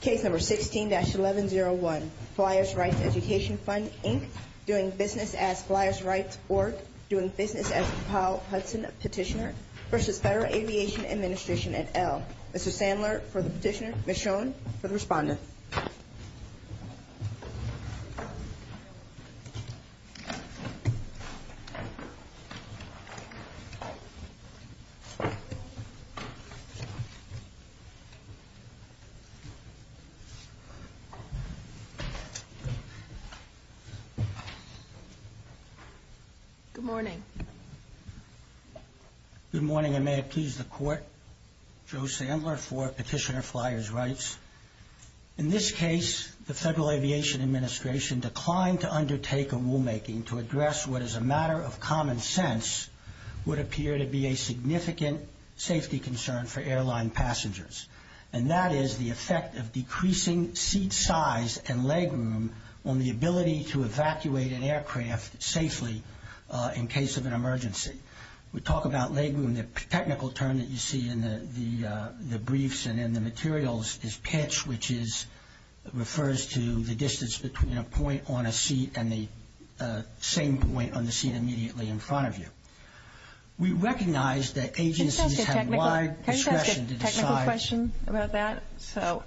Case number 16-1101 Flyers Rights Education Fund, Inc. Doing business as Flyers Rights, Org. Doing business as Powell Hudson Petitioner v. Federal Aviation Administration, et al. Mr. Sandler for the petitioner, Ms. Schoen for the respondent. Good morning. Good morning, and may it please the Court. Joe Sandler for Petitioner Flyers Rights. In this case, the Federal Aviation Administration declined to undertake a rulemaking to address what, as a matter of common sense, would appear to be a significant safety concern for airline passengers, and that is the effect of decreasing seat size and legroom on the ability to evacuate an aircraft safely in case of an emergency. We talk about legroom. The technical term that you see in the briefs and in the materials is pitch, which refers to the distance between a point on a seat and the same point on the seat immediately in front of you. We recognize that agencies have wide discretion to decide. Can I ask a technical question about that? Sure.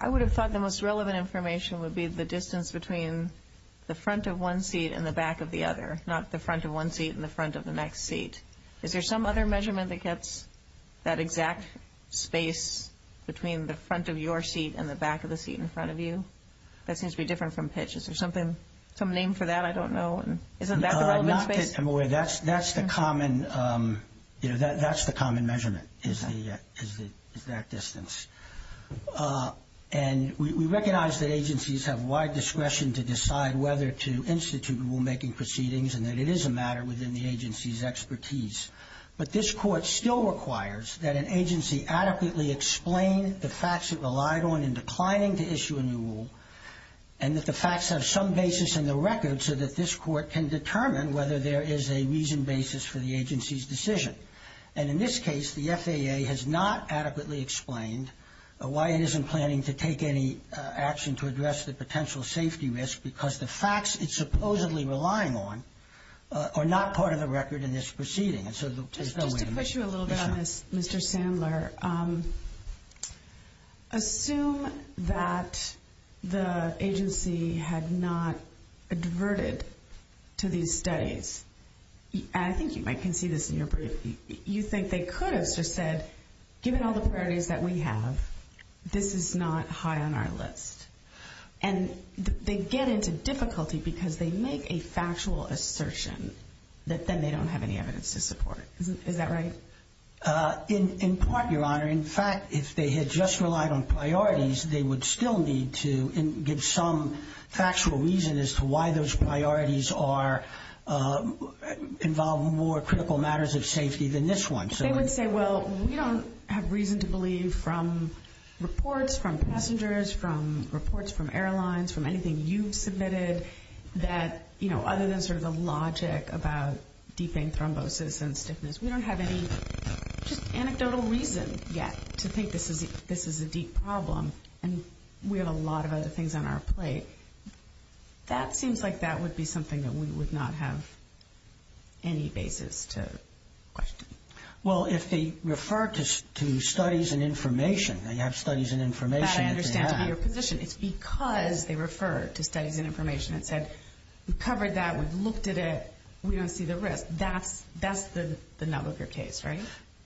I would have thought the most relevant information would be the distance between the front of one seat and the back of the other, not the front of one seat and the front of the next seat. Is there some other measurement that gets that exact space between the front of your seat and the back of the seat in front of you? That seems to be different from pitch. Is there something, some name for that? I don't know. Isn't that the relevant space? That's the common measurement is that distance. And we recognize that agencies have wide discretion to decide whether to institute rulemaking proceedings and that it is a matter within the agency's expertise. But this Court still requires that an agency adequately explain the facts it relied on in declining to issue a new rule and that the facts have some basis in the record so that this Court can determine whether there is a reasoned basis for the agency's decision. And in this case, the FAA has not adequately explained why it isn't planning to take any action to address the potential safety risk because the facts it's supposedly relying on are not part of the record in this proceeding. Just to push you a little bit on this, Mr. Sandler, assume that the agency had not adverted to these studies. And I think you might concede this in your brief. You think they could have just said, given all the priorities that we have, this is not high on our list. And they get into difficulty because they make a factual assertion that then they don't have any evidence to support. Is that right? In part, Your Honor. In fact, if they had just relied on priorities, they would still need to give some factual reason as to why those priorities involve more critical matters of safety than this one. They would say, well, we don't have reason to believe from reports from passengers, from reports from airlines, from anything you've submitted, that other than sort of the logic about deep vein thrombosis and stiffness, we don't have any just anecdotal reason yet to think this is a deep problem. And we have a lot of other things on our plate. That seems like that would be something that we would not have any basis to question. Well, if they refer to studies and information, they have studies and information. That I understand to be your position. It's because they refer to studies and information that said we covered that, we've looked at it, we don't see the risk. That's the nub of your case, right?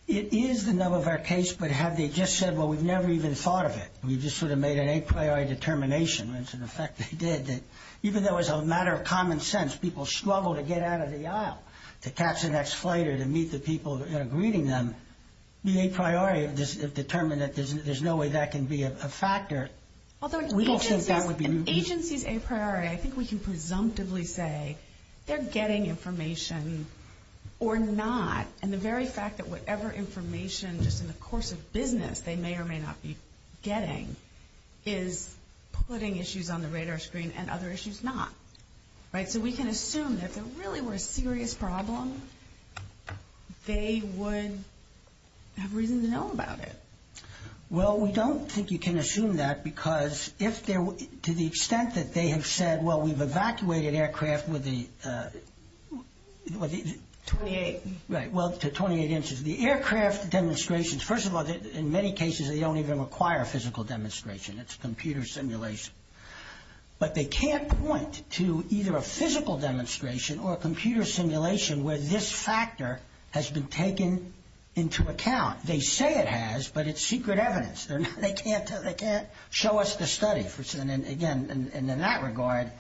It is the nub of our case. Yes, but have they just said, well, we've never even thought of it. We've just sort of made an a priori determination, which in effect they did, that even though it's a matter of common sense, people struggle to get out of the aisle, to catch the next flight or to meet the people that are greeting them, the a priori have determined that there's no way that can be a factor. Although an agency's a priori, I think we can presumptively say they're getting information or not. And the very fact that whatever information just in the course of business they may or may not be getting is putting issues on the radar screen and other issues not. So we can assume that if there really were a serious problem, they would have reason to know about it. Well, we don't think you can assume that because to the extent that they have said, well, we've evacuated aircraft to 28 inches. The aircraft demonstrations, first of all, in many cases they don't even require a physical demonstration. It's a computer simulation. But they can't point to either a physical demonstration or a computer simulation where this factor has been taken into account. They say it has, but it's secret evidence. They can't show us the study. And, again, in that regard,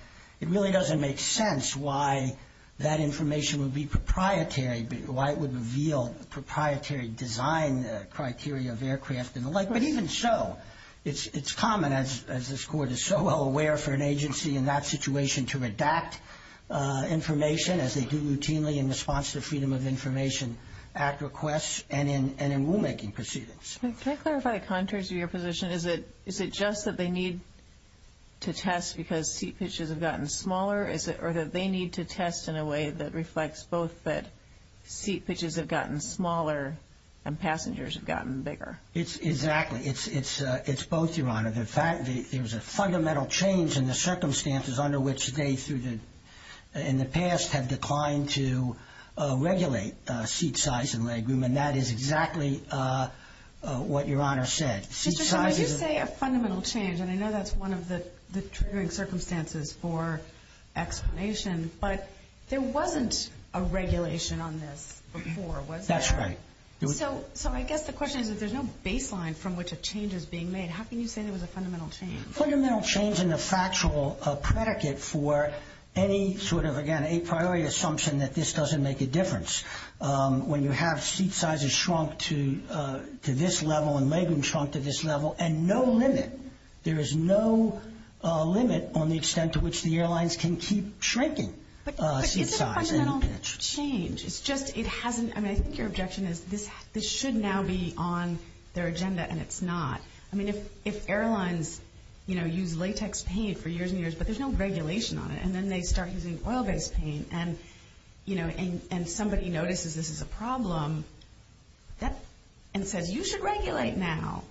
it really doesn't make sense why that information would be proprietary, why it would reveal proprietary design criteria of aircraft and the like. But even so, it's common, as this Court is so well aware for an agency in that situation, to redact information as they do routinely in response to Freedom of Information Act requests and in rulemaking proceedings. Can I clarify the contours of your position? Is it just that they need to test because seat pitches have gotten smaller, or that they need to test in a way that reflects both that seat pitches have gotten smaller and passengers have gotten bigger? Exactly. It's both, Your Honor. In fact, there's a fundamental change in the circumstances under which they, in the past, have declined to regulate seat size and legroom. And that is exactly what Your Honor said. Mr. Chairman, you say a fundamental change, and I know that's one of the triggering circumstances for explanation, but there wasn't a regulation on this before, was there? That's right. So I guess the question is, if there's no baseline from which a change is being made, how can you say there was a fundamental change? A fundamental change in the factual predicate for any sort of, again, a priori assumption that this doesn't make a difference. When you have seat sizes shrunk to this level and legroom shrunk to this level, and no limit, there is no limit on the extent to which the airlines can keep shrinking seat size. But is it a fundamental change? It's just it hasn't, I mean, I think your objection is this should now be on their agenda, and it's not. I mean, if airlines, you know, use latex paint for years and years, but there's no regulation on it, and then they start using oil-based paint, and, you know, somebody notices this is a problem and says you should regulate now,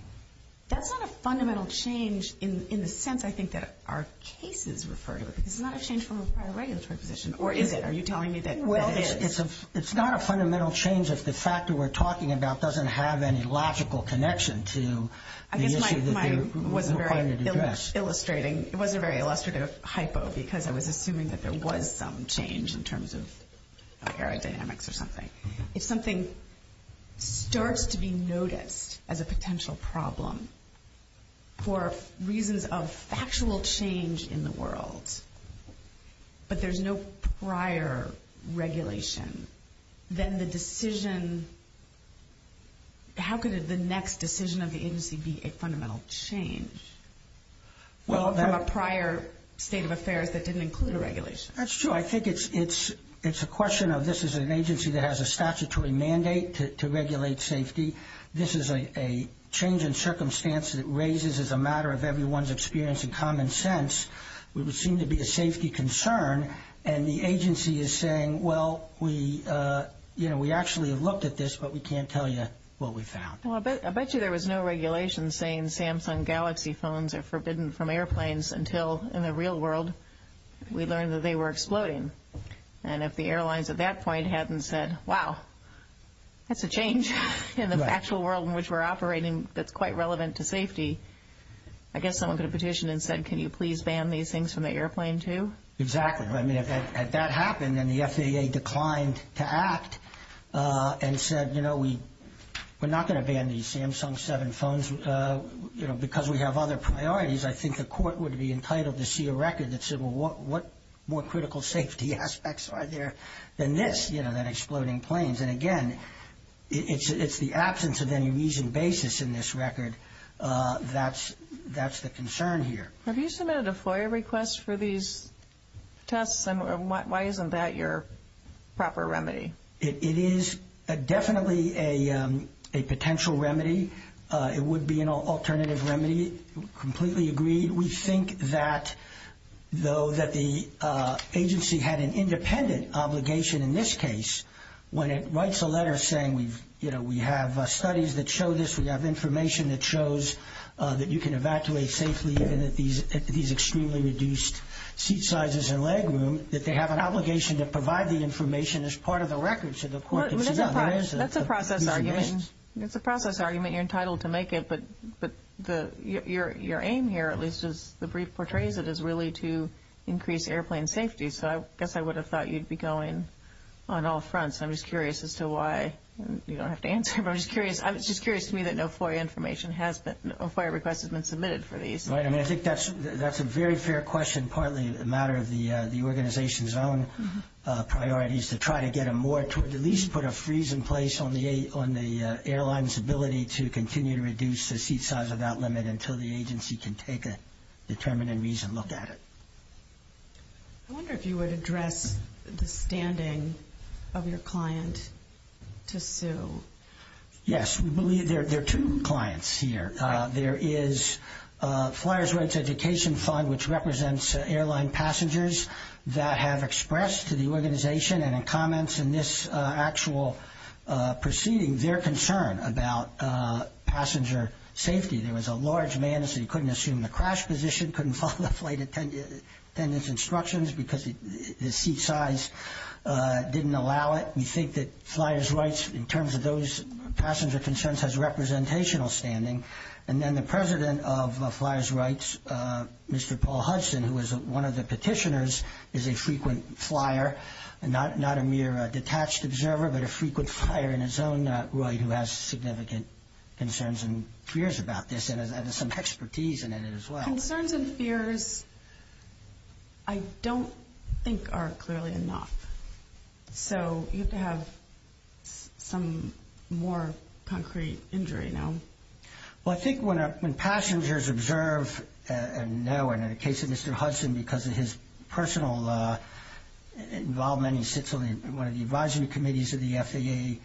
that's not a fundamental change in the sense, I think, that our cases refer to it. This is not a change from a prior regulatory position. Or is it? Are you telling me that it is? It's not a fundamental change if the factor we're talking about doesn't have any logical connection to the issue that we're trying to address. It was a very illustrative hypo because I was assuming that there was some change in terms of aerodynamics or something. If something starts to be noticed as a potential problem for reasons of factual change in the world, but there's no prior regulation, then the decision, how could the next decision of the agency be a fundamental change from a prior state of affairs that didn't include a regulation? That's true. I think it's a question of this is an agency that has a statutory mandate to regulate safety. This is a change in circumstance that raises as a matter of everyone's experience and common sense what would seem to be a safety concern, and the agency is saying, well, we actually have looked at this, but we can't tell you what we found. I bet you there was no regulation saying Samsung Galaxy phones are forbidden from airplanes until in the real world we learned that they were exploding. And if the airlines at that point hadn't said, wow, that's a change in the actual world in which we're operating that's quite relevant to safety, I guess someone could have petitioned and said, can you please ban these things from the airplane, too? Exactly. I mean, had that happened and the FAA declined to act and said, you know, we're not going to ban these Samsung 7 phones because we have other priorities, I think the court would be entitled to see a record that said, well, what more critical safety aspects are there than this, you know, that exploding planes? And, again, it's the absence of any reason basis in this record that's the concern here. Have you submitted a FOIA request for these tests, and why isn't that your proper remedy? It is definitely a potential remedy. It would be an alternative remedy. Completely agreed. We think that though that the agency had an independent obligation in this case, when it writes a letter saying, you know, we have studies that show this, we have information that shows that you can evacuate safely even at these extremely reduced seat sizes and leg room, that they have an obligation to provide the information as part of the record. That's a process argument. It's a process argument. You're entitled to make it. But your aim here, at least as the brief portrays it, is really to increase airplane safety. So I guess I would have thought you'd be going on all fronts. I'm just curious as to why. You don't have to answer, but I'm just curious. I'm just curious to me that no FOIA request has been submitted for these. Right. I mean, I think that's a very fair question, partly a matter of the organization's own priorities, to try to get a more, to at least put a freeze in place on the airline's ability to continue to reduce the seat size without limit until the agency can take a determined and reasoned look at it. I wonder if you would address the standing of your client to sue. Yes. We believe there are two clients here. There is Flyers Rights Education Fund, which represents airline passengers, that have expressed to the organization and in comments in this actual proceeding their concern about passenger safety. There was a large man who couldn't assume the crash position, couldn't follow the flight attendant's instructions because the seat size didn't allow it. We think that Flyers Rights, in terms of those passenger concerns, has representational standing. And then the president of Flyers Rights, Mr. Paul Hudson, who was one of the petitioners, is a frequent flyer, not a mere detached observer, but a frequent flyer in his own right who has significant concerns and fears about this and has some expertise in it as well. Concerns and fears I don't think are clearly enough. So you have to have some more concrete injury now. Well, I think when passengers observe and know, and in the case of Mr. Hudson, because of his personal involvement, he sits on one of the advising committees of the FAA,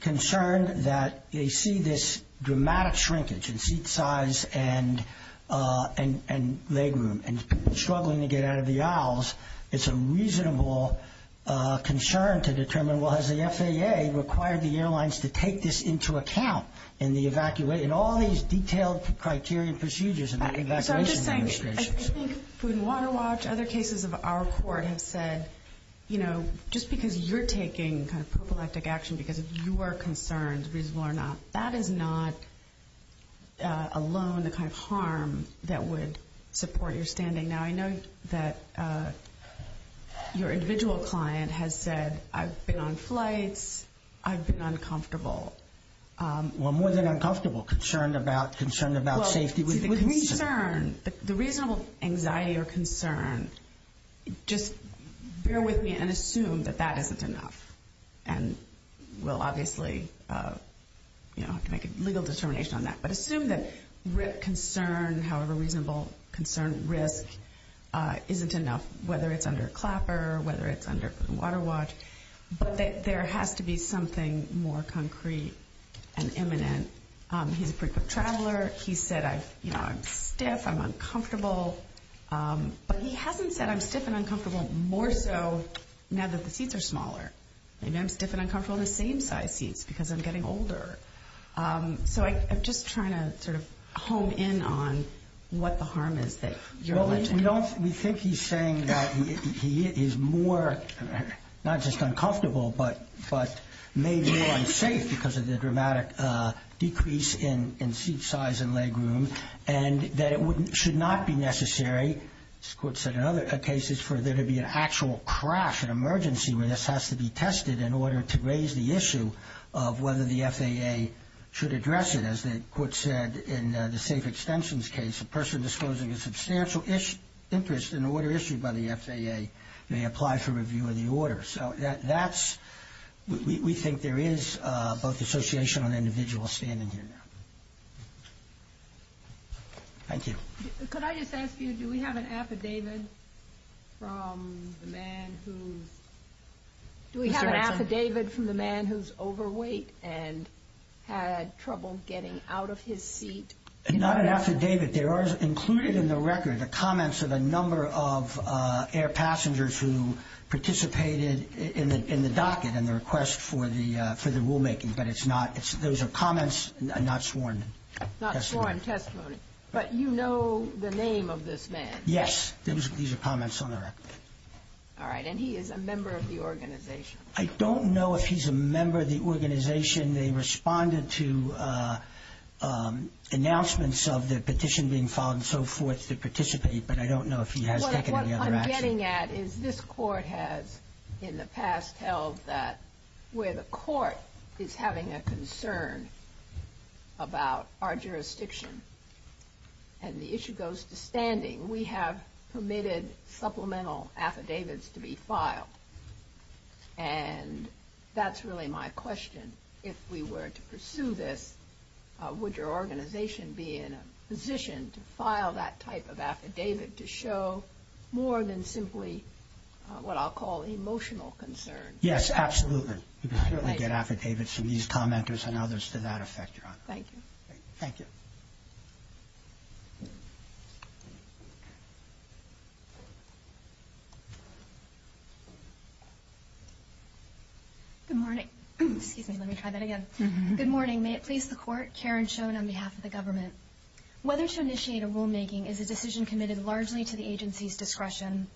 concerned that they see this dramatic shrinkage in seat size and leg room. And struggling to get out of the aisles, it's a reasonable concern to determine, well, has the FAA required the airlines to take this into account in the evacuation? All these detailed criteria and procedures in the evacuation administration. So I'm just saying, I think Food and Water Watch, other cases of our court have said, you know, just because you're taking kind of prophylactic action because of your concerns, reasonable or not, that is not alone the kind of harm that would support your standing. Now, I know that your individual client has said, I've been on flights, I've been uncomfortable. Well, more than uncomfortable, concerned about safety with reason. The reasonable anxiety or concern, just bear with me and assume that that isn't enough and we'll obviously, you know, have to make a legal determination on that. But assume that concern, however reasonable concern risk, isn't enough, whether it's under CLAPR, whether it's under Food and Water Watch, but that there has to be something more concrete and imminent. He's a frequent traveler. He's said, you know, I'm stiff, I'm uncomfortable. But he hasn't said I'm stiff and uncomfortable more so now that the seats are smaller. Maybe I'm stiff and uncomfortable in the same size seats because I'm getting older. So I'm just trying to sort of hone in on what the harm is that you're alleging. We think he's saying that he is more, not just uncomfortable, but maybe more unsafe because of the dramatic decrease in seat size and leg room and that it should not be necessary, as the Court said in other cases, for there to be an actual crash, an emergency where this has to be tested in order to raise the issue of whether the FAA should address it. As the Court said in the Safe Extensions case, a person disclosing a substantial interest in an order issued by the FAA may apply for review of the order. So we think there is both association on the individual standing here now. Thank you. Could I just ask you, do we have an affidavit from the man who's... Do we have an affidavit from the man who's overweight and had trouble getting out of his seat? Not an affidavit. There are included in the record the comments of a number of air passengers who participated in the docket and the request for the rulemaking, but it's not – those are comments, not sworn testimony. Not sworn testimony. But you know the name of this man, right? Yes. These are comments on the record. All right. And he is a member of the organization. I don't know if he's a member of the organization. They responded to announcements of the petition being filed and so forth to participate, but I don't know if he has taken any other action. What I'm getting at is this court has in the past held that where the court is having a concern about our jurisdiction and the issue goes to standing, we have permitted supplemental affidavits to be filed. And that's really my question. If we were to pursue this, would your organization be in a position to file that type of affidavit to show more than simply what I'll call emotional concern? Yes, absolutely. You can certainly get affidavits from these commenters and others to that effect, Your Honor. Thank you. Thank you. Good morning. Excuse me. Let me try that again. Good morning. May it please the Court. Karen Schoen on behalf of the government. Whether to initiate a rulemaking is a decision committed largely to the agency's discretion.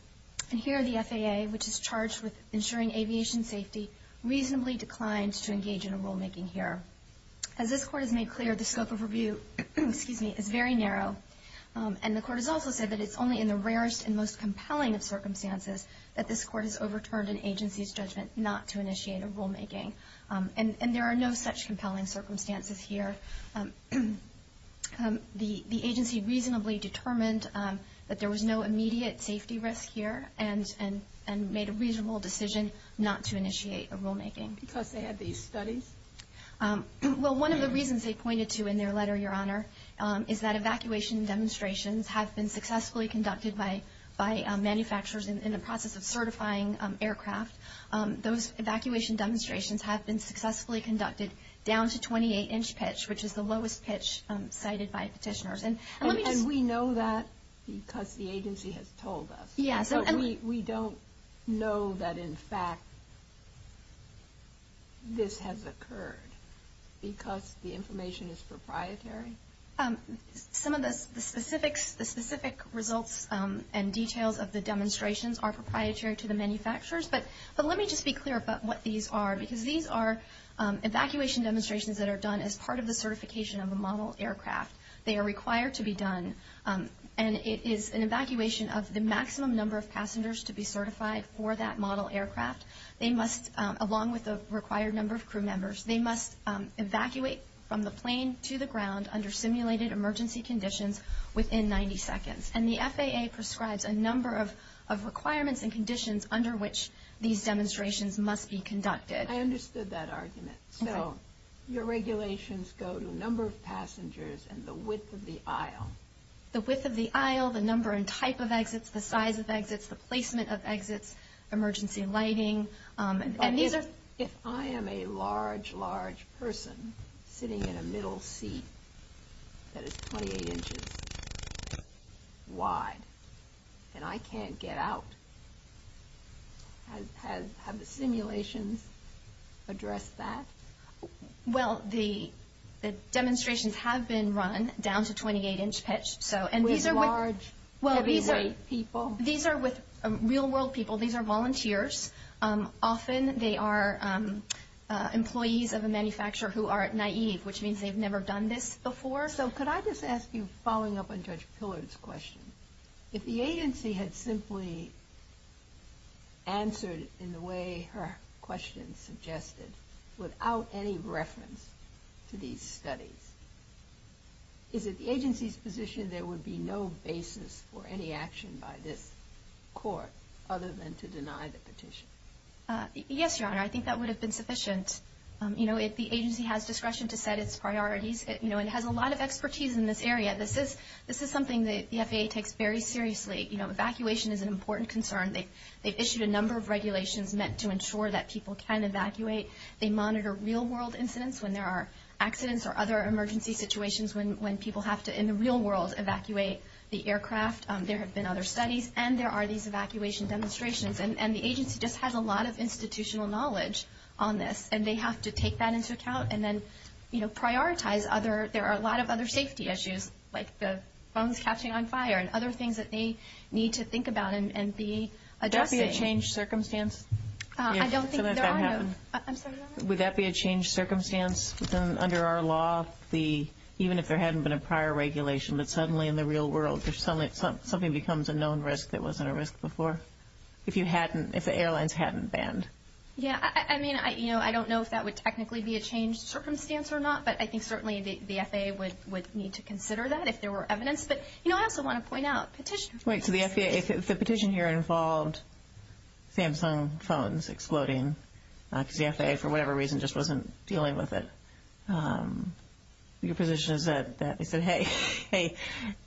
And here the FAA, which is charged with ensuring aviation safety, reasonably declined to engage in a rulemaking here. As this Court has made clear, the scope of review is very narrow, and the Court has also said that it's only in the rarest and most compelling of circumstances that this Court has overturned an agency's judgment not to initiate a rulemaking. And there are no such compelling circumstances here. The agency reasonably determined that there was no immediate safety risk here and made a reasonable decision not to initiate a rulemaking. Because they had these studies? Well, one of the reasons they pointed to in their letter, Your Honor, is that evacuation demonstrations have been successfully conducted by manufacturers in the process of certifying aircraft. Those evacuation demonstrations have been successfully conducted down to 28-inch pitch, which is the lowest pitch cited by petitioners. And we know that because the agency has told us. Yes. But we don't know that, in fact, this has occurred because the information is proprietary? Some of the specific results and details of the demonstrations are proprietary to the manufacturers. But let me just be clear about what these are, because these are evacuation demonstrations that are done as part of the certification of a model aircraft. They are required to be done, and it is an evacuation of the maximum number of passengers to be certified for that model aircraft. They must, along with the required number of crew members, they must evacuate from the plane to the ground under simulated emergency conditions within 90 seconds. And the FAA prescribes a number of requirements and conditions under which these demonstrations must be conducted. I understood that argument. Okay. So your regulations go to number of passengers and the width of the aisle. The width of the aisle, the number and type of exits, the size of exits, the placement of exits, emergency lighting. If I am a large, large person sitting in a middle seat that is 28 inches wide and I can't get out, have the simulations addressed that? Well, the demonstrations have been run down to 28-inch pitch. With large, heavyweight people? These are with real-world people. These are volunteers. Often they are employees of a manufacturer who are naive, which means they've never done this before. So could I just ask you, following up on Judge Pillard's question, if the agency had simply answered in the way her question suggested without any reference to these studies, is it the agency's position there would be no basis for any action by this court other than to deny the petition? Yes, Your Honor. I think that would have been sufficient. You know, if the agency has discretion to set its priorities, you know, it has a lot of expertise in this area. This is something that the FAA takes very seriously. You know, evacuation is an important concern. They've issued a number of regulations meant to ensure that people can evacuate. They monitor real-world incidents when there are accidents or other emergency situations when people have to, in the real world, evacuate the aircraft. There have been other studies, and there are these evacuation demonstrations. And the agency just has a lot of institutional knowledge on this, and they have to take that into account and then, you know, prioritize other. There are a lot of other safety issues, like the phones catching on fire and other things that they need to think about and be addressing. Would that be a changed circumstance? I don't think there are no—I'm sorry, Your Honor? Would that be a changed circumstance under our law, even if there hadn't been a prior regulation, that suddenly in the real world something becomes a known risk that wasn't a risk before, if the airlines hadn't banned? Yeah, I mean, you know, I don't know if that would technically be a changed circumstance or not, but I think certainly the FAA would need to consider that if there were evidence. But, you know, I also want to point out petition— Wait, so the FAA—the petition here involved Samsung phones exploding because the FAA, for whatever reason, just wasn't dealing with it. Your position is that they said, hey, hey,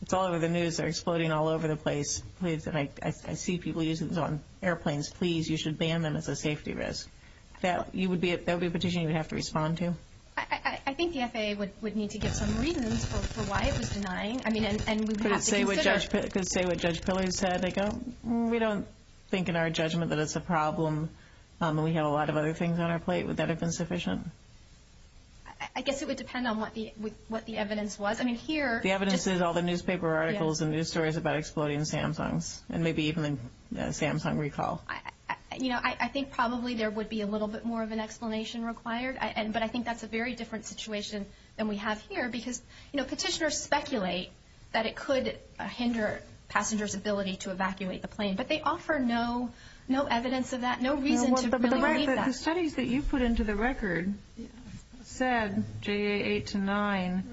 it's all over the news. They're exploding all over the place. I see people using them on airplanes. Please, you should ban them as a safety risk. That would be a petition you would have to respond to? I think the FAA would need to give some reasons for why it was denying. Could it say what Judge Pillory said? We don't think in our judgment that it's a problem. We have a lot of other things on our plate. Would that have been sufficient? I guess it would depend on what the evidence was. The evidence is all the newspaper articles and news stories about exploding Samsungs and maybe even a Samsung recall. You know, I think probably there would be a little bit more of an explanation required, but I think that's a very different situation than we have here because petitioners speculate that it could hinder passengers' ability to evacuate the plane, but they offer no evidence of that, no reason to believe that. The studies that you put into the record said, J.A. 8 to 9,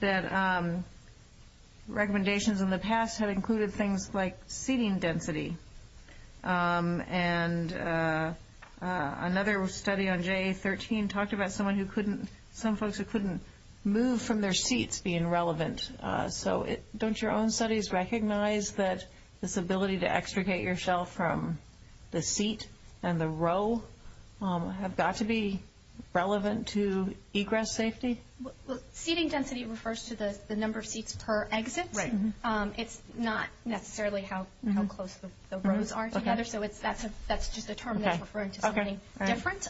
that recommendations in the past had included things like seating density. And another study on J.A. 13 talked about some folks who couldn't move from their seats being relevant. So don't your own studies recognize that this ability to extricate yourself from the seat and the row have got to be relevant to egress safety? Seating density refers to the number of seats per exit. It's not necessarily how close the rows are together, so that's just a term that's referring to something different.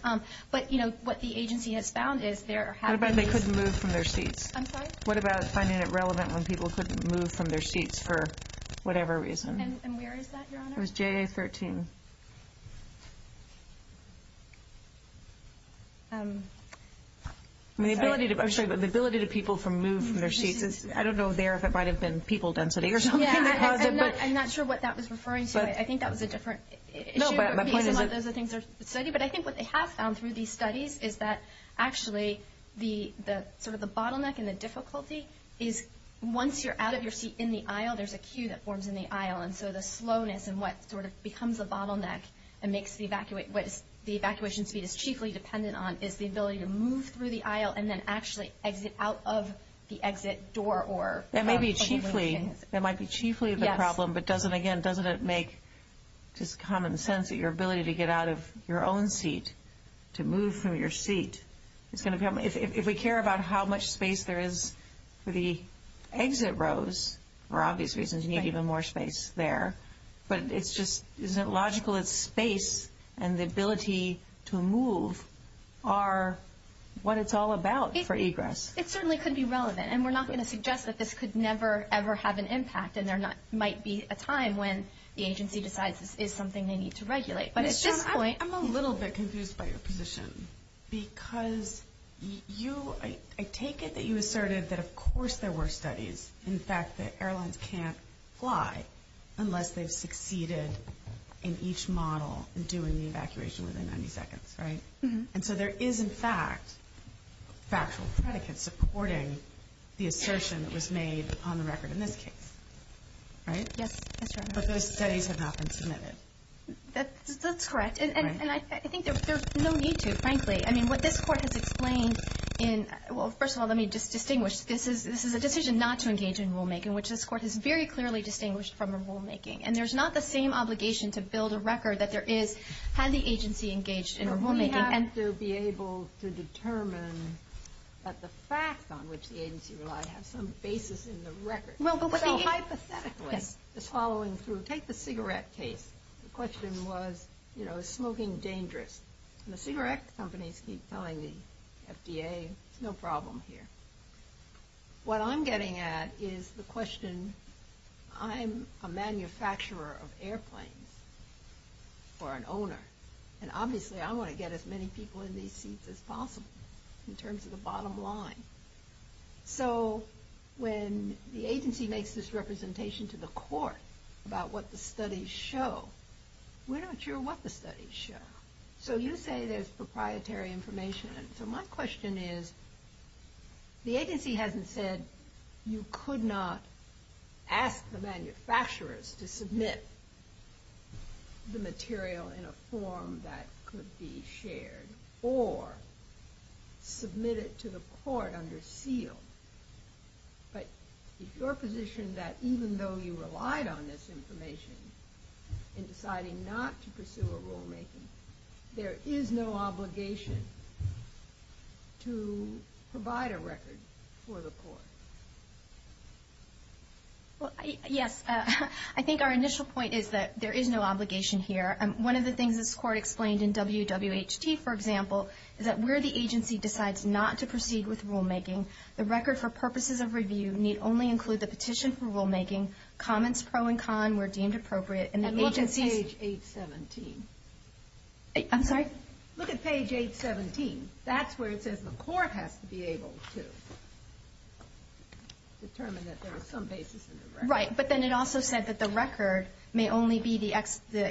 But, you know, what the agency has found is there have been these— What about they couldn't move from their seats? I'm sorry? What about finding it relevant when people couldn't move from their seats for whatever reason? And where is that, Your Honor? It was J.A. 13. I'm sorry, but the ability to people move from their seats is— I don't know there if it might have been people density or something that caused it. Yeah, I'm not sure what that was referring to. I think that was a different issue. No, but my point is— Some of those are things that are studied. But I think what they have found through these studies is that, actually, sort of the bottleneck and the difficulty is once you're out of your seat in the aisle, there's a queue that forms in the aisle. And so the slowness and what sort of becomes a bottleneck and makes the evacuation—what the evacuation speed is chiefly dependent on is the ability to move through the aisle and then actually exit out of the exit door or— That may be chiefly— That might be chiefly the problem. Yes. But doesn't, again, doesn't it make just common sense that your ability to get out of your own seat, to move from your seat, it's going to become— If we care about how much space there is for the exit rows, for obvious reasons, you need even more space there. But it's just—isn't it logical that space and the ability to move are what it's all about for egress? It certainly could be relevant. And we're not going to suggest that this could never, ever have an impact and there might be a time when the agency decides this is something they need to regulate. But at this point— I'm a little bit confused by your position because you— I take it that you asserted that, of course, there were studies, in fact, that airlines can't fly unless they've succeeded in each model in doing the evacuation within 90 seconds, right? And so there is, in fact, factual predicate supporting the assertion that was made on the record in this case, right? Yes, that's correct. But those studies have not been submitted. That's correct. And I think there's no need to, frankly. I mean, what this Court has explained in—well, first of all, let me just distinguish. This is a decision not to engage in rulemaking, which this Court has very clearly distinguished from a rulemaking. And there's not the same obligation to build a record that there is had the agency engaged in a rulemaking. We have to be able to determine that the facts on which the agency relied have some basis in the record. Well, but the agency— So hypothetically, this following through, take the cigarette case. The question was, you know, is smoking dangerous? And the cigarette companies keep telling the FDA it's no problem here. What I'm getting at is the question, I'm a manufacturer of airplanes or an owner, and obviously I want to get as many people in these seats as possible in terms of the bottom line. So when the agency makes this representation to the Court about what the studies show, we're not sure what the studies show. So you say there's proprietary information. So my question is, the agency hasn't said you could not ask the manufacturers to submit the material in a form that could be shared or submit it to the Court under seal. But is your position that even though you relied on this information in deciding not to pursue a rulemaking, there is no obligation to provide a record for the Court? Well, yes. I think our initial point is that there is no obligation here. One of the things this Court explained in WWHT, for example, is that where the agency decides not to proceed with rulemaking, the record for purposes of review need only include the petition for rulemaking, comments pro and con where deemed appropriate. And look at page 817. I'm sorry? Look at page 817. That's where it says the Court has to be able to determine that there is some basis in the record. Right. But then it also said that the record may only be the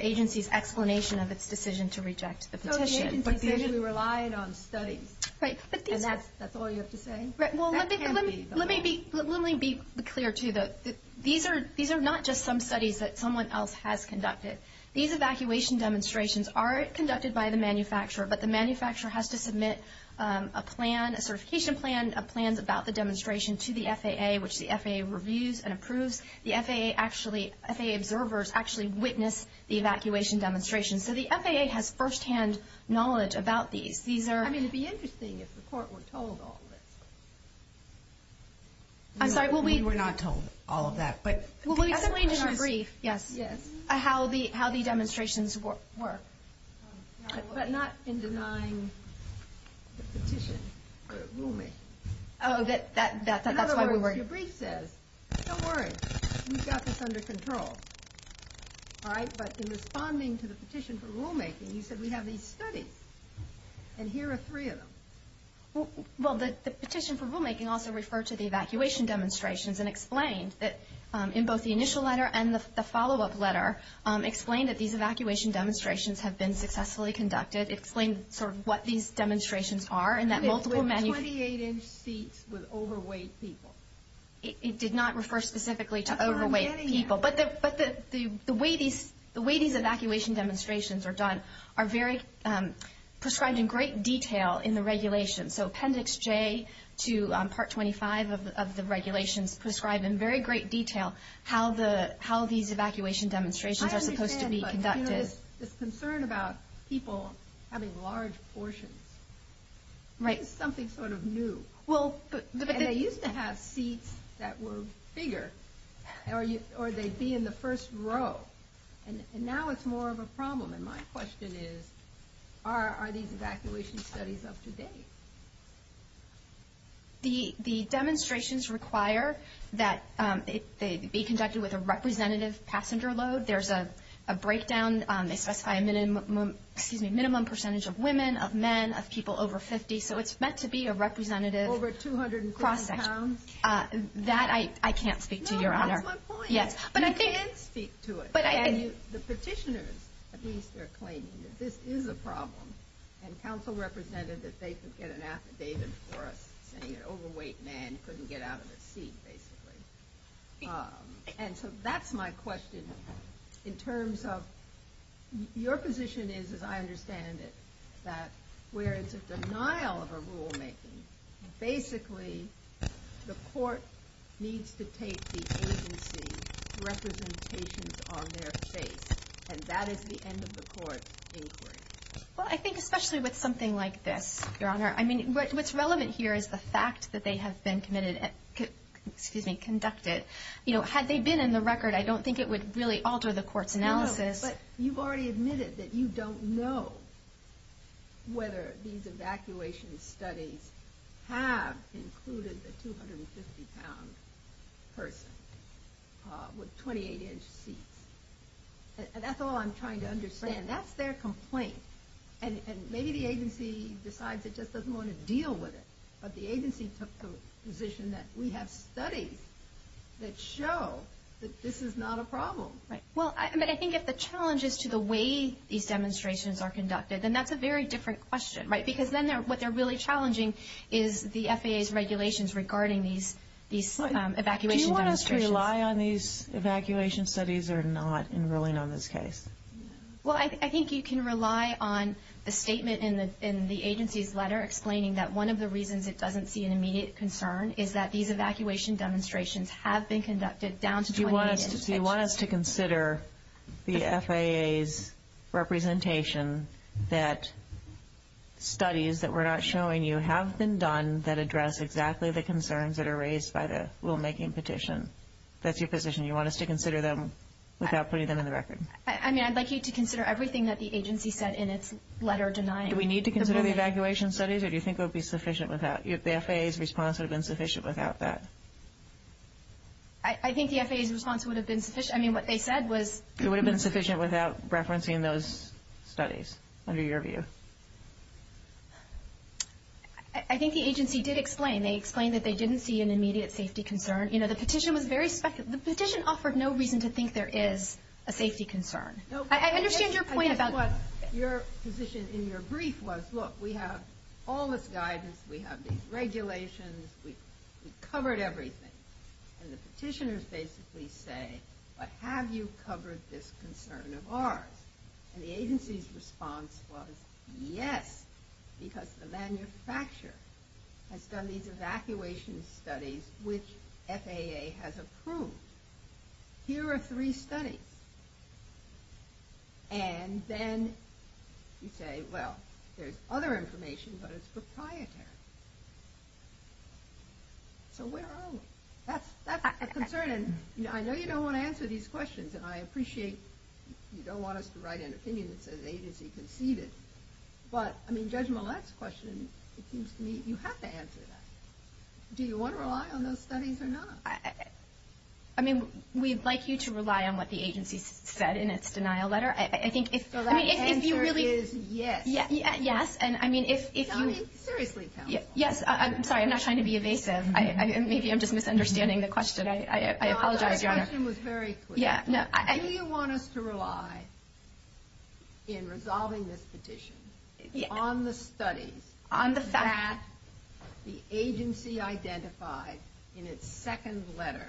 agency's explanation of its decision to reject the petition. But the agency relied on studies. Right. And that's all you have to say? Right. Well, let me be clear, too. These are not just some studies that someone else has conducted. These evacuation demonstrations are conducted by the manufacturer, but the manufacturer has to submit a plan, a certification plan, a plan about the demonstration to the FAA, which the FAA reviews and approves. The FAA observers actually witness the evacuation demonstration. So the FAA has first-hand knowledge about these. I mean, it would be interesting if the Court were told all of this. I'm sorry? We were not told all of that. Well, we explained in our brief how the demonstrations were. But not in denying the petition for rulemaking. In other words, your brief says, don't worry, we've got this under control. All right? But in responding to the petition for rulemaking, you said, we have these studies, and here are three of them. Well, the petition for rulemaking also referred to the evacuation demonstrations and explained that in both the initial letter and the follow-up letter, explained that these evacuation demonstrations have been successfully conducted, explained sort of what these demonstrations are in that multiple menu. 28-inch seats with overweight people. It did not refer specifically to overweight people. But the way these evacuation demonstrations are done are very prescribed in great detail in the regulations. So Appendix J to Part 25 of the regulations prescribe in very great detail how these evacuation demonstrations are supposed to be conducted. I understand, but there is this concern about people having large portions. Right. This is something sort of new. And they used to have seats that were bigger. Or they'd be in the first row. And now it's more of a problem. And my question is, are these evacuation studies up to date? The demonstrations require that they be conducted with a representative passenger load. There's a breakdown. They specify a minimum percentage of women, of men, of people over 50. So it's meant to be a representative cross-section. Over 230 pounds? That I can't speak to, Your Honor. No, that's my point. You can speak to it. The petitioners, at least, are claiming that this is a problem. And counsel represented that they could get an affidavit for us saying an overweight man couldn't get out of his seat, basically. And so that's my question. In terms of your position is, as I understand it, that where it's a denial of a rulemaking, basically the court needs to take the agency's representations on their face. And that is the end of the court's inquiry. Well, I think especially with something like this, Your Honor, what's relevant here is the fact that they have been conducted. Had they been in the record, I don't think it would really alter the court's analysis. But you've already admitted that you don't know whether these evacuation studies have included a 250-pound person with 28-inch seats. And that's all I'm trying to understand. That's their complaint. And maybe the agency decides it just doesn't want to deal with it. But the agency took the position that we have studies that show that this is not a problem. Well, I think if the challenge is to the way these demonstrations are conducted, then that's a very different question, right? Because then what they're really challenging is the FAA's regulations regarding these evacuation demonstrations. Do you want us to rely on these evacuation studies or not in ruling on this case? Well, I think you can rely on the statement in the agency's letter explaining that one of the reasons it doesn't see an immediate concern is that these evacuation demonstrations have been conducted down to 28 inches. So you want us to consider the FAA's representation that studies that we're not showing you have been done that address exactly the concerns that are raised by the rulemaking petition. That's your position? You want us to consider them without putting them in the record? I mean, I'd like you to consider everything that the agency said in its letter denying. Do we need to consider the evacuation studies, or do you think it would be sufficient without? The FAA's response would have been sufficient without that. I think the FAA's response would have been sufficient. I mean, what they said was... It would have been sufficient without referencing those studies, under your view. I think the agency did explain. They explained that they didn't see an immediate safety concern. You know, the petition was very... The petition offered no reason to think there is a safety concern. I understand your point about... Your position in your brief was, look, we have all this guidance, we have these regulations, we've covered everything. And the petitioners basically say, but have you covered this concern of ours? And the agency's response was, yes, because the manufacturer has done these evacuation studies, which FAA has approved. Here are three studies. And then you say, well, there's other information, but it's proprietary. So where are we? That's a concern, and I know you don't want to answer these questions, and I appreciate you don't want us to write an opinion that says the agency conceived it. But, I mean, Judge Millett's question, it seems to me, you have to answer that. Do you want to rely on those studies or not? I mean, we'd like you to rely on what the agency said in its denial letter. I think if... So that answer is yes. Yes. And, I mean, if you... I mean, seriously, counsel. Yes. I'm sorry, I'm not trying to be evasive. Maybe I'm just misunderstanding the question. I apologize, Your Honor. No, our question was very clear. Do you want us to rely in resolving this petition on the studies... On the fact... That the agency identified in its second letter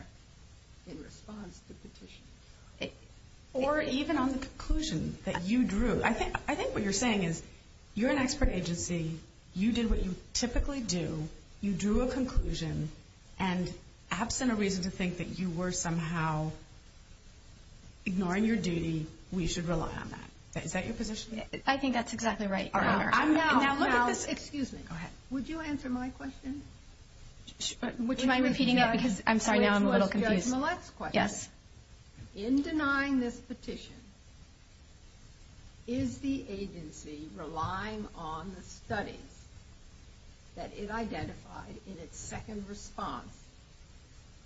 in response to the petition? Or even on the conclusion that you drew. I think what you're saying is you're an expert agency, you did what you typically do, you drew a conclusion, and absent a reason to think that you were somehow ignoring your duty, we should rely on that. Is that your position? I think that's exactly right, Your Honor. Now, look at this... Excuse me. Go ahead. Would you answer my question? Would you mind repeating that? Because I'm sorry, now I'm a little confused. Which was Judge Millett's question. Yes. In denying this petition, is the agency relying on the studies that it identified in its second response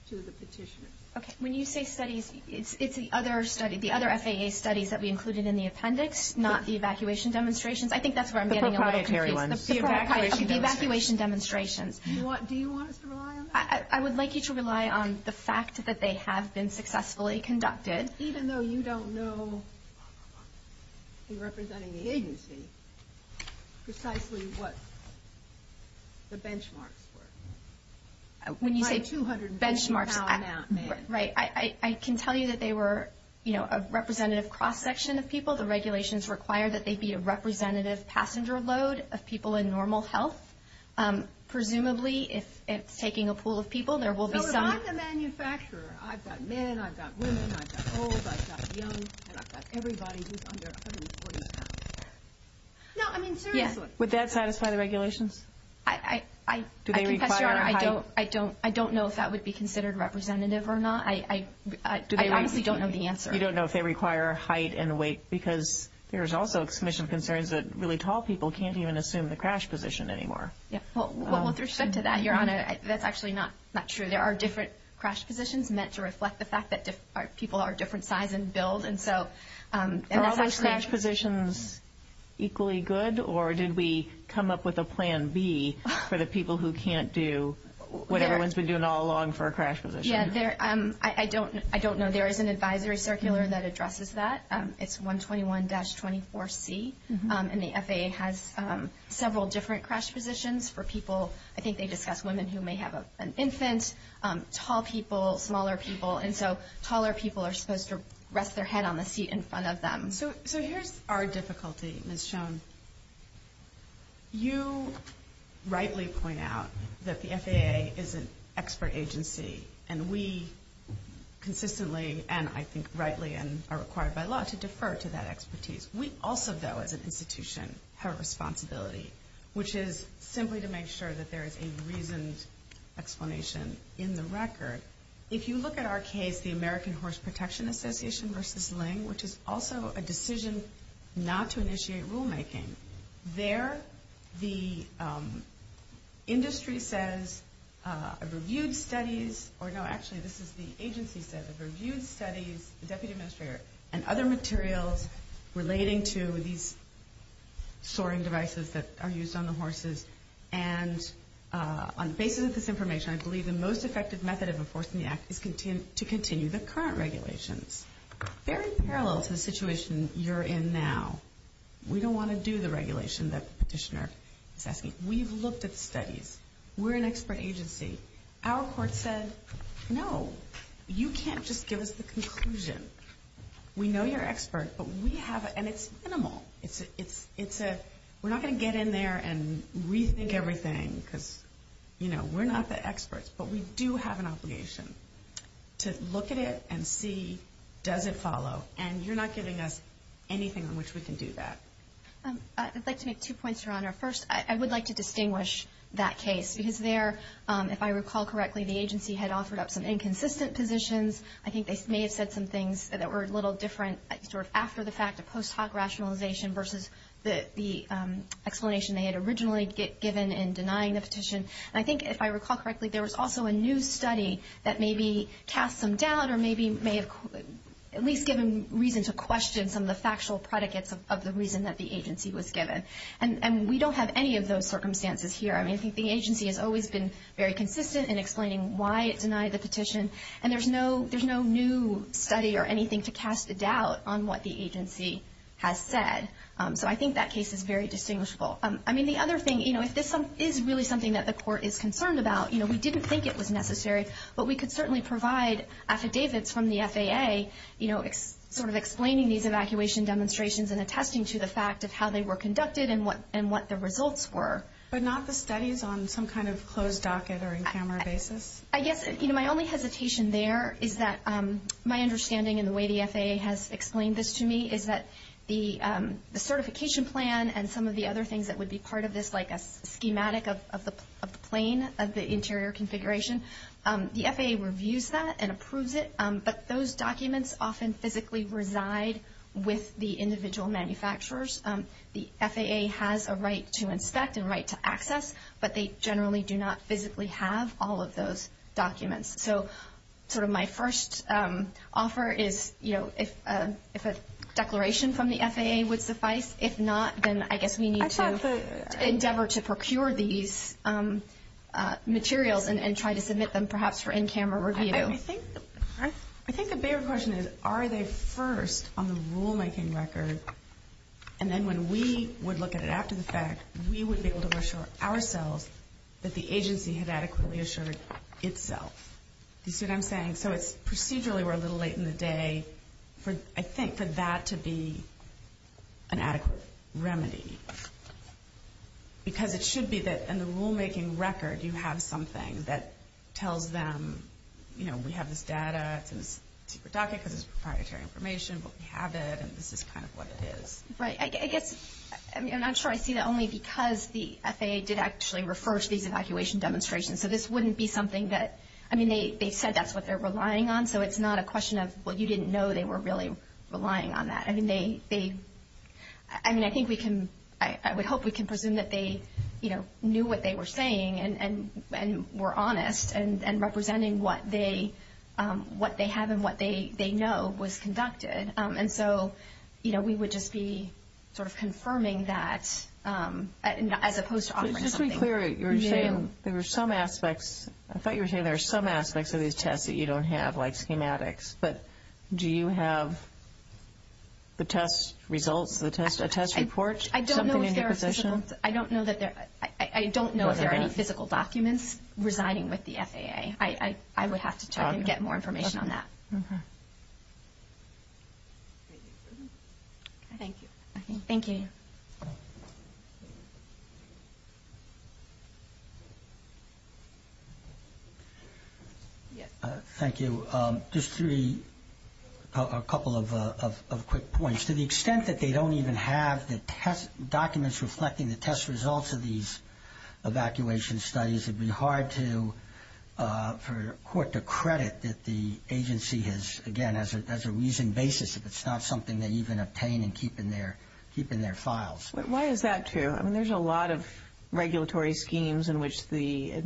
to the petition? Okay. When you say studies, it's the other study, the other FAA studies that we included in the appendix, I think that's where I'm getting a little confused. The proprietary ones. The evacuation demonstrations. Do you want us to rely on that? I would like you to rely on the fact that they have been successfully conducted. Even though you don't know, in representing the agency, precisely what the benchmarks were. When you say benchmarks, I can tell you that they were a representative cross-section of people. The regulations require that they be a representative passenger load of people in normal health. Presumably, if it's taking a pool of people, there will be some... So, if I'm the manufacturer, I've got men, I've got women, I've got old, I've got young, and I've got everybody who's under 140 pounds. No, I mean, seriously. Yes. Would that satisfy the regulations? I confess, Your Honor, I don't know if that would be considered representative or not. I honestly don't know the answer. You don't know if they require height and weight? Because there's also a commission of concerns that really tall people can't even assume the crash position anymore. Well, with respect to that, Your Honor, that's actually not true. There are different crash positions meant to reflect the fact that people are different size and build. And so... Are all those crash positions equally good? Or did we come up with a plan B for the people who can't do what everyone's been doing all along for a crash position? Yeah. I don't know. There is an advisory circular that addresses that. It's 121-24C. And the FAA has several different crash positions for people. I think they discuss women who may have an infant, tall people, smaller people. And so, taller people are supposed to rest their head on the seat in front of them. So, here's our difficulty, Ms. Schoen. You rightly point out that the FAA is an expert agency. And we consistently, and I think rightly and are required by law, to defer to that expertise. We also, though, as an institution, have a responsibility, which is simply to make sure that there is a reasoned explanation in the record. If you look at our case, the American Horse Protection Association versus LING, which is also a decision not to initiate rulemaking. There, the industry says, reviewed studies, or no, actually, this is the agency said, reviewed studies, the Deputy Administrator, and other materials relating to these soaring devices that are used on the horses. And on the basis of this information, I believe the most effective method of enforcing the Act is to continue the current regulations. Very parallel to the situation you're in now, we don't want to do the regulation that the petitioner is asking. We've looked at the studies. We're an expert agency. Our court said, no, you can't just give us the conclusion. We know you're expert, but we have, and it's minimal. We're not going to get in there and rethink everything because, you know, we're not the experts, but we do have an obligation to look at it and see, does it follow? And you're not giving us anything on which we can do that. I'd like to make two points, Your Honor. First, I would like to distinguish that case because there, if I recall correctly, the agency had offered up some inconsistent positions. I think they may have said some things that were a little different sort of after the fact, a post hoc rationalization versus the explanation they had originally given in denying the petition. And I think, if I recall correctly, there was also a new study that maybe cast some doubt or maybe may have at least given reason to question some of the factual predicates of the reason that the agency was given. And we don't have any of those circumstances here. I mean, I think the agency has always been very consistent in explaining why it denied the petition. And there's no new study or anything to cast a doubt on what the agency has said. So I think that case is very distinguishable. I mean, the other thing, you know, if this is really something that the court is concerned about, you know, we didn't think it was necessary, but we could certainly provide affidavits from the FAA, you know, sort of explaining these evacuation demonstrations and attesting to the fact of how they were conducted and what the results were. But not the studies on some kind of closed docket or in-camera basis? I guess, you know, my only hesitation there is that my understanding and the way the FAA has explained this to me is that the certification plan and some of the other things that would be part of this, like a schematic of the plane of the interior configuration, the FAA reviews that and approves it. But those documents often physically reside with the individual manufacturers. The FAA has a right to inspect and right to access, but they generally do not physically have all of those documents. So sort of my first offer is, you know, if a declaration from the FAA would suffice. If not, then I guess we need to endeavor to procure these materials and try to submit them perhaps for in-camera review. I think the bigger question is, are they first on the rulemaking record? And then when we would look at it after the fact, we would be able to assure ourselves that the agency had adequately assured itself. You see what I'm saying? So procedurally, we're a little late in the day, I think, for that to be an adequate remedy. Because it should be that in the rulemaking record you have something that tells them, you know, we have this data, it's in this secret docket because it's proprietary information, but we have it and this is kind of what it is. Right. I guess, I mean, I'm not sure I see that only because the FAA did actually refer to these evacuation demonstrations. So this wouldn't be something that, I mean, they said that's what they're relying on. So it's not a question of, well, you didn't know they were really relying on that. I mean, they, I mean, I think we can, I would hope we can presume that they, you know, knew what they were saying and were honest and representing what they have and what they know was conducted. And so, you know, we would just be sort of confirming that as opposed to offering something. Just to be clear, you were saying there were some aspects, I thought you were saying there were some aspects of these tests that you don't have, like schematics. But do you have the test results, a test report, something in your possession? I don't know if there are physical, I don't know if there are any physical documents residing with the FAA. I would have to try to get more information on that. Thank you. Thank you. Thank you. Just three, a couple of quick points. To the extent that they don't even have the test documents reflecting the test results of these evacuation studies, it would be hard for court to credit that the agency has, again, as a reason, basis, if it's not something they even obtain and keep in their files. Why is that true? I mean, there's a lot of regulatory schemes in which the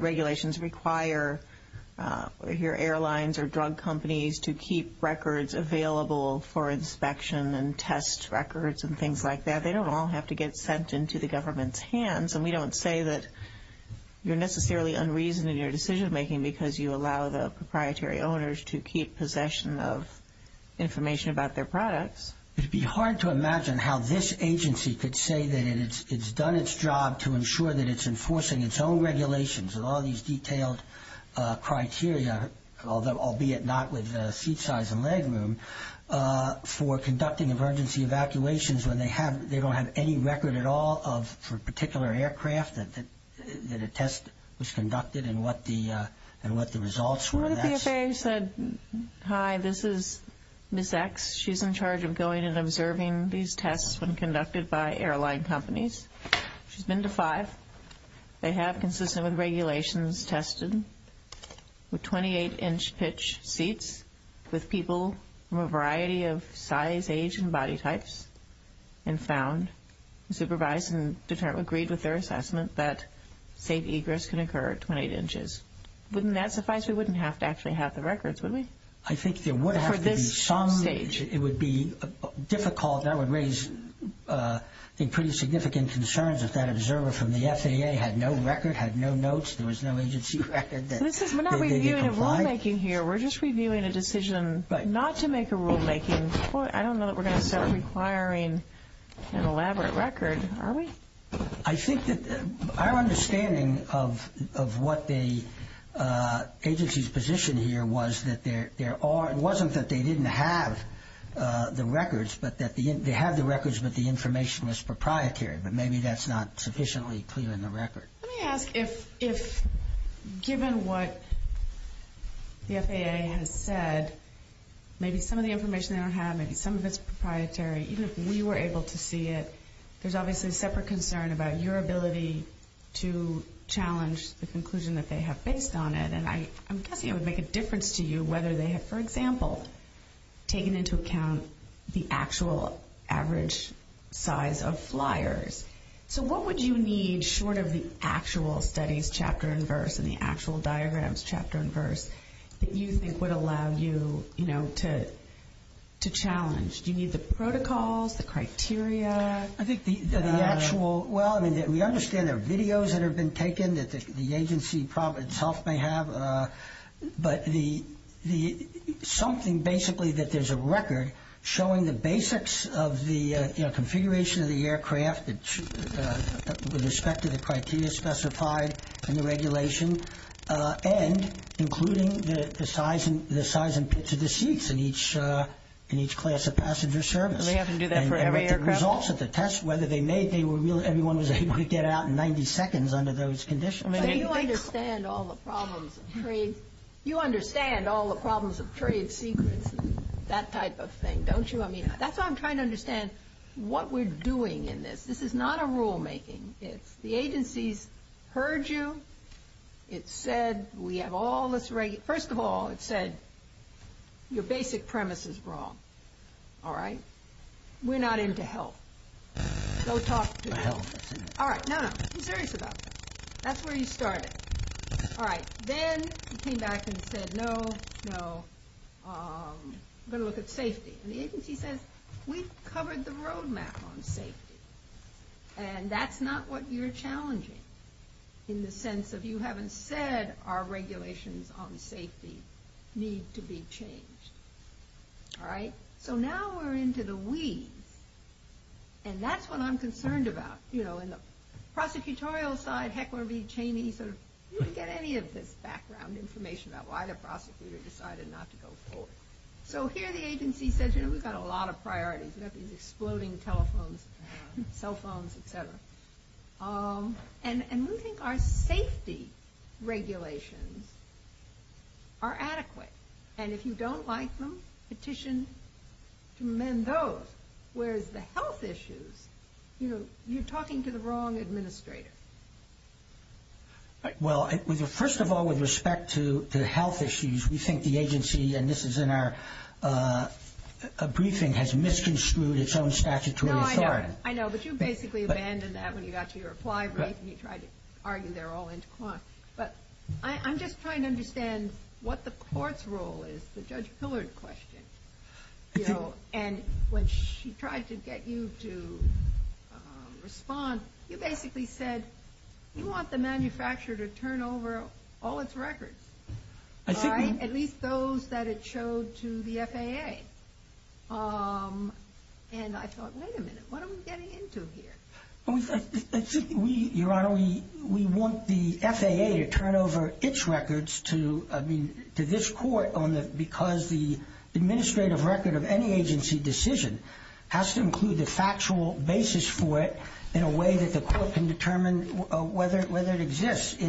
regulations require your airlines or drug companies to keep records available for inspection and test records and things like that. They don't all have to get sent into the government's hands. And we don't say that you're necessarily unreasonable in your decision making because you allow the proprietary owners to keep possession of information about their products. It would be hard to imagine how this agency could say that it's done its job to ensure that it's enforcing its own regulations and all these detailed criteria, albeit not with seat size and leg room, for conducting emergency evacuations when they don't have any record at all for a particular aircraft that a test was conducted and what the results were. What if the FAA said, hi, this is Ms. X. She's in charge of going and observing these tests when conducted by airline companies. She's been to five. They have consistent with regulations tested with 28-inch pitch seats with people from a variety of size, age, and body types, and found, supervised, and agreed with their assessment that safe egress can occur at 28 inches. Wouldn't that suffice? We wouldn't have to actually have the records, would we? I think there would have to be some. For this stage. It would be difficult. That would raise pretty significant concerns if that observer from the FAA had no record, had no notes, there was no agency record that they'd be complied. We're not reviewing a rulemaking here. We're just reviewing a decision not to make a rulemaking. I don't know that we're going to start requiring an elaborate record, are we? I think that our understanding of what the agency's position here was that there are it wasn't that they didn't have the records, but that they have the records, but the information was proprietary, but maybe that's not sufficiently clear in the record. Let me ask if given what the FAA has said, maybe some of the information they don't have, maybe some of it's proprietary, even if we were able to see it, there's obviously a separate concern about your ability to challenge the conclusion that they have based on it. And I'm guessing it would make a difference to you whether they have, for example, taken into account the actual average size of flyers. So what would you need short of the actual studies, chapter and verse, and the actual diagrams, chapter and verse, that you think would allow you to challenge? Do you need the protocols, the criteria? I think the actual, well, I mean, we understand there are videos that have been taken that the agency itself may have, but something basically that there's a record showing the basics of the configuration of the aircraft with respect to the criteria specified in the regulation, and including the size and pitch of the seats in each class of passenger service. And we have to do that for every aircraft? And the results of the test, whether they made it, everyone was able to get out in 90 seconds under those conditions. You understand all the problems of trade secrets and that type of thing, don't you? I mean, that's why I'm trying to understand what we're doing in this. This is not a rulemaking. It's the agency's heard you. It said, we have all this regulation. First of all, it said, your basic premise is wrong. All right? We're not into health. Go talk to the health person. All right, no, no, I'm serious about that. That's where you started. All right, then you came back and said, no, no, I'm going to look at safety. And the agency says, we've covered the roadmap on safety. And that's not what you're challenging, in the sense of you haven't said our regulations on safety need to be changed. All right? So now we're into the we. And that's what I'm concerned about. You know, in the prosecutorial side, Heckler v. Cheney, you didn't get any of this background information about why the prosecutor decided not to go forward. So here the agency says, you know, we've got a lot of priorities. We've got these exploding telephones, cell phones, et cetera. And we think our safety regulations are adequate. And if you don't like them, petition to amend those. Whereas the health issues, you know, you're talking to the wrong administrator. Well, first of all, with respect to the health issues, we think the agency, and this is in our briefing, has misconstrued its own statutory authority. No, I know. I know. But you basically abandoned that when you got to your reply brief and you tried to argue they're all in. But I'm just trying to understand what the court's role is, the Judge Pillard question. And when she tried to get you to respond, you basically said you want the manufacturer to turn over all its records. At least those that it showed to the FAA. And I thought, wait a minute, what are we getting into here? Your Honor, we want the FAA to turn over its records to this court because the administrative record of any agency decision has to include the factual basis for it in a way that the court can determine whether it exists. So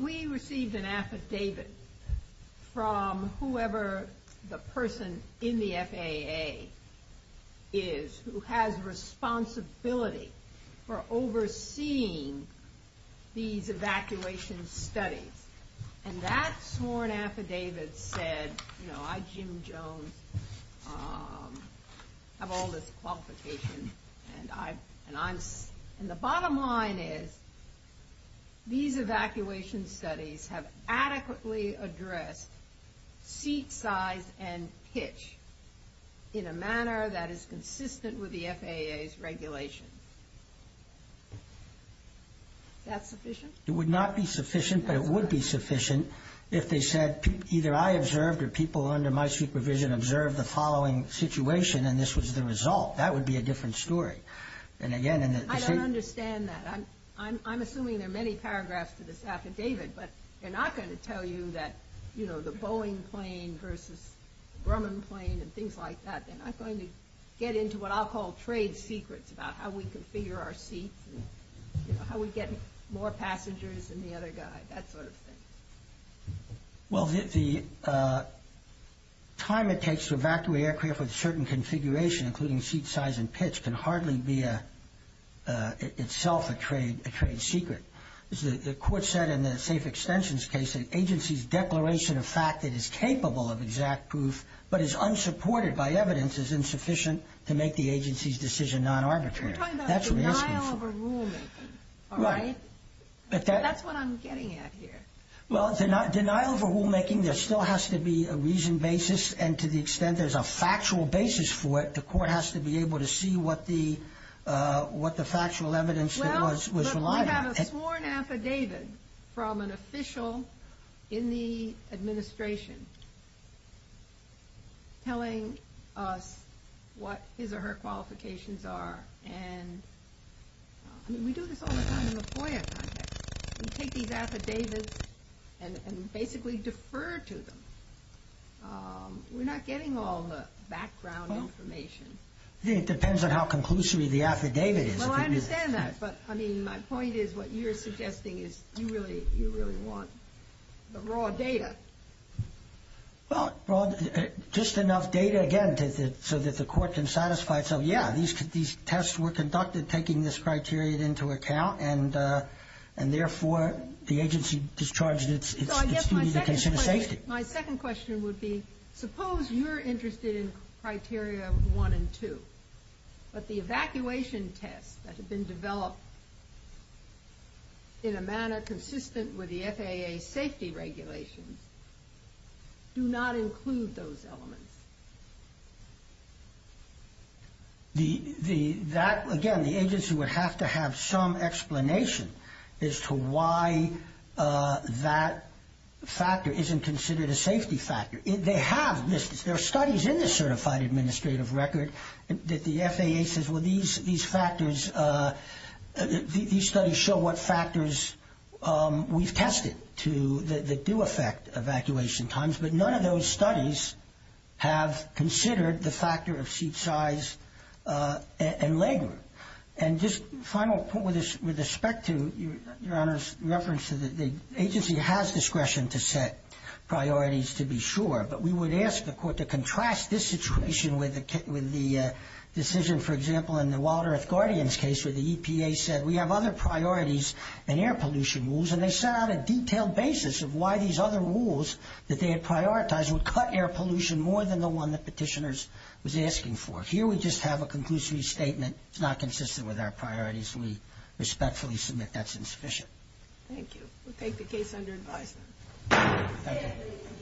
we received an affidavit from whoever the person in the FAA is who has responsibility for overseeing these evacuation studies. And that sworn affidavit said, you know, I, Jim Jones, have all this qualification. And I'm, and the bottom line is these evacuation studies have adequately addressed seat size and pitch in a manner that is consistent with the FAA's regulation. Is that sufficient? It would not be sufficient, but it would be sufficient if they said either I observed or people under my supervision observed the following situation and this was the result. That would be a different story. I don't understand that. I'm assuming there are many paragraphs to this affidavit, but they're not going to tell you that, you know, the Boeing plane versus Grumman plane and things like that. They're not going to get into what I'll call trade secrets about how we configure our seats and, you know, how we get more passengers than the other guy, that sort of thing. Well, the time it takes to evacuate aircraft with a certain configuration, including seat size and pitch, can hardly be itself a trade secret. The court said in the safe extensions case that an agency's declaration of fact that is capable of exact proof but is unsupported by evidence is insufficient to make the agency's decision non-arbitrary. You're talking about denial of rulemaking. Right. That's what I'm getting at here. Well, denial of rulemaking, there still has to be a reasoned basis. And to the extent there's a factual basis for it, the court has to be able to see what the factual evidence that was relied on. We have a sworn affidavit from an official in the administration telling us what his or her qualifications are. I mean, we do this all the time in the FOIA context. We take these affidavits and basically defer to them. We're not getting all the background information. It depends on how conclusory the affidavit is. Well, I understand that. But, I mean, my point is what you're suggesting is you really want the raw data. Well, just enough data, again, so that the court can satisfy itself, yeah, these tests were conducted taking this criteria into account. And, therefore, the agency discharged its duty to consider safety. My second question would be, suppose you're interested in criteria one and two. But the evacuation tests that have been developed in a manner consistent with the FAA safety regulations do not include those elements. That, again, the agency would have to have some explanation as to why that factor isn't considered a safety factor. They have this. There are studies in the Certified Administrative Record that the FAA says, well, these factors, these studies show what factors we've tested that do affect evacuation times. But none of those studies have considered the factor of seat size and leg room. And just a final point with respect to Your Honor's reference to the agency has discretion to set priorities to be sure. But we would ask the court to contrast this situation with the decision, for example, in the Wild Earth Guardians case where the EPA said we have other priorities and air pollution rules. And they set out a detailed basis of why these other rules that they had prioritized would cut air pollution more than the one that petitioners was asking for. So here we just have a conclusive statement. It's not consistent with our priorities. We respectfully submit that's insufficient. Thank you. We'll take the case under advisement. Thank you.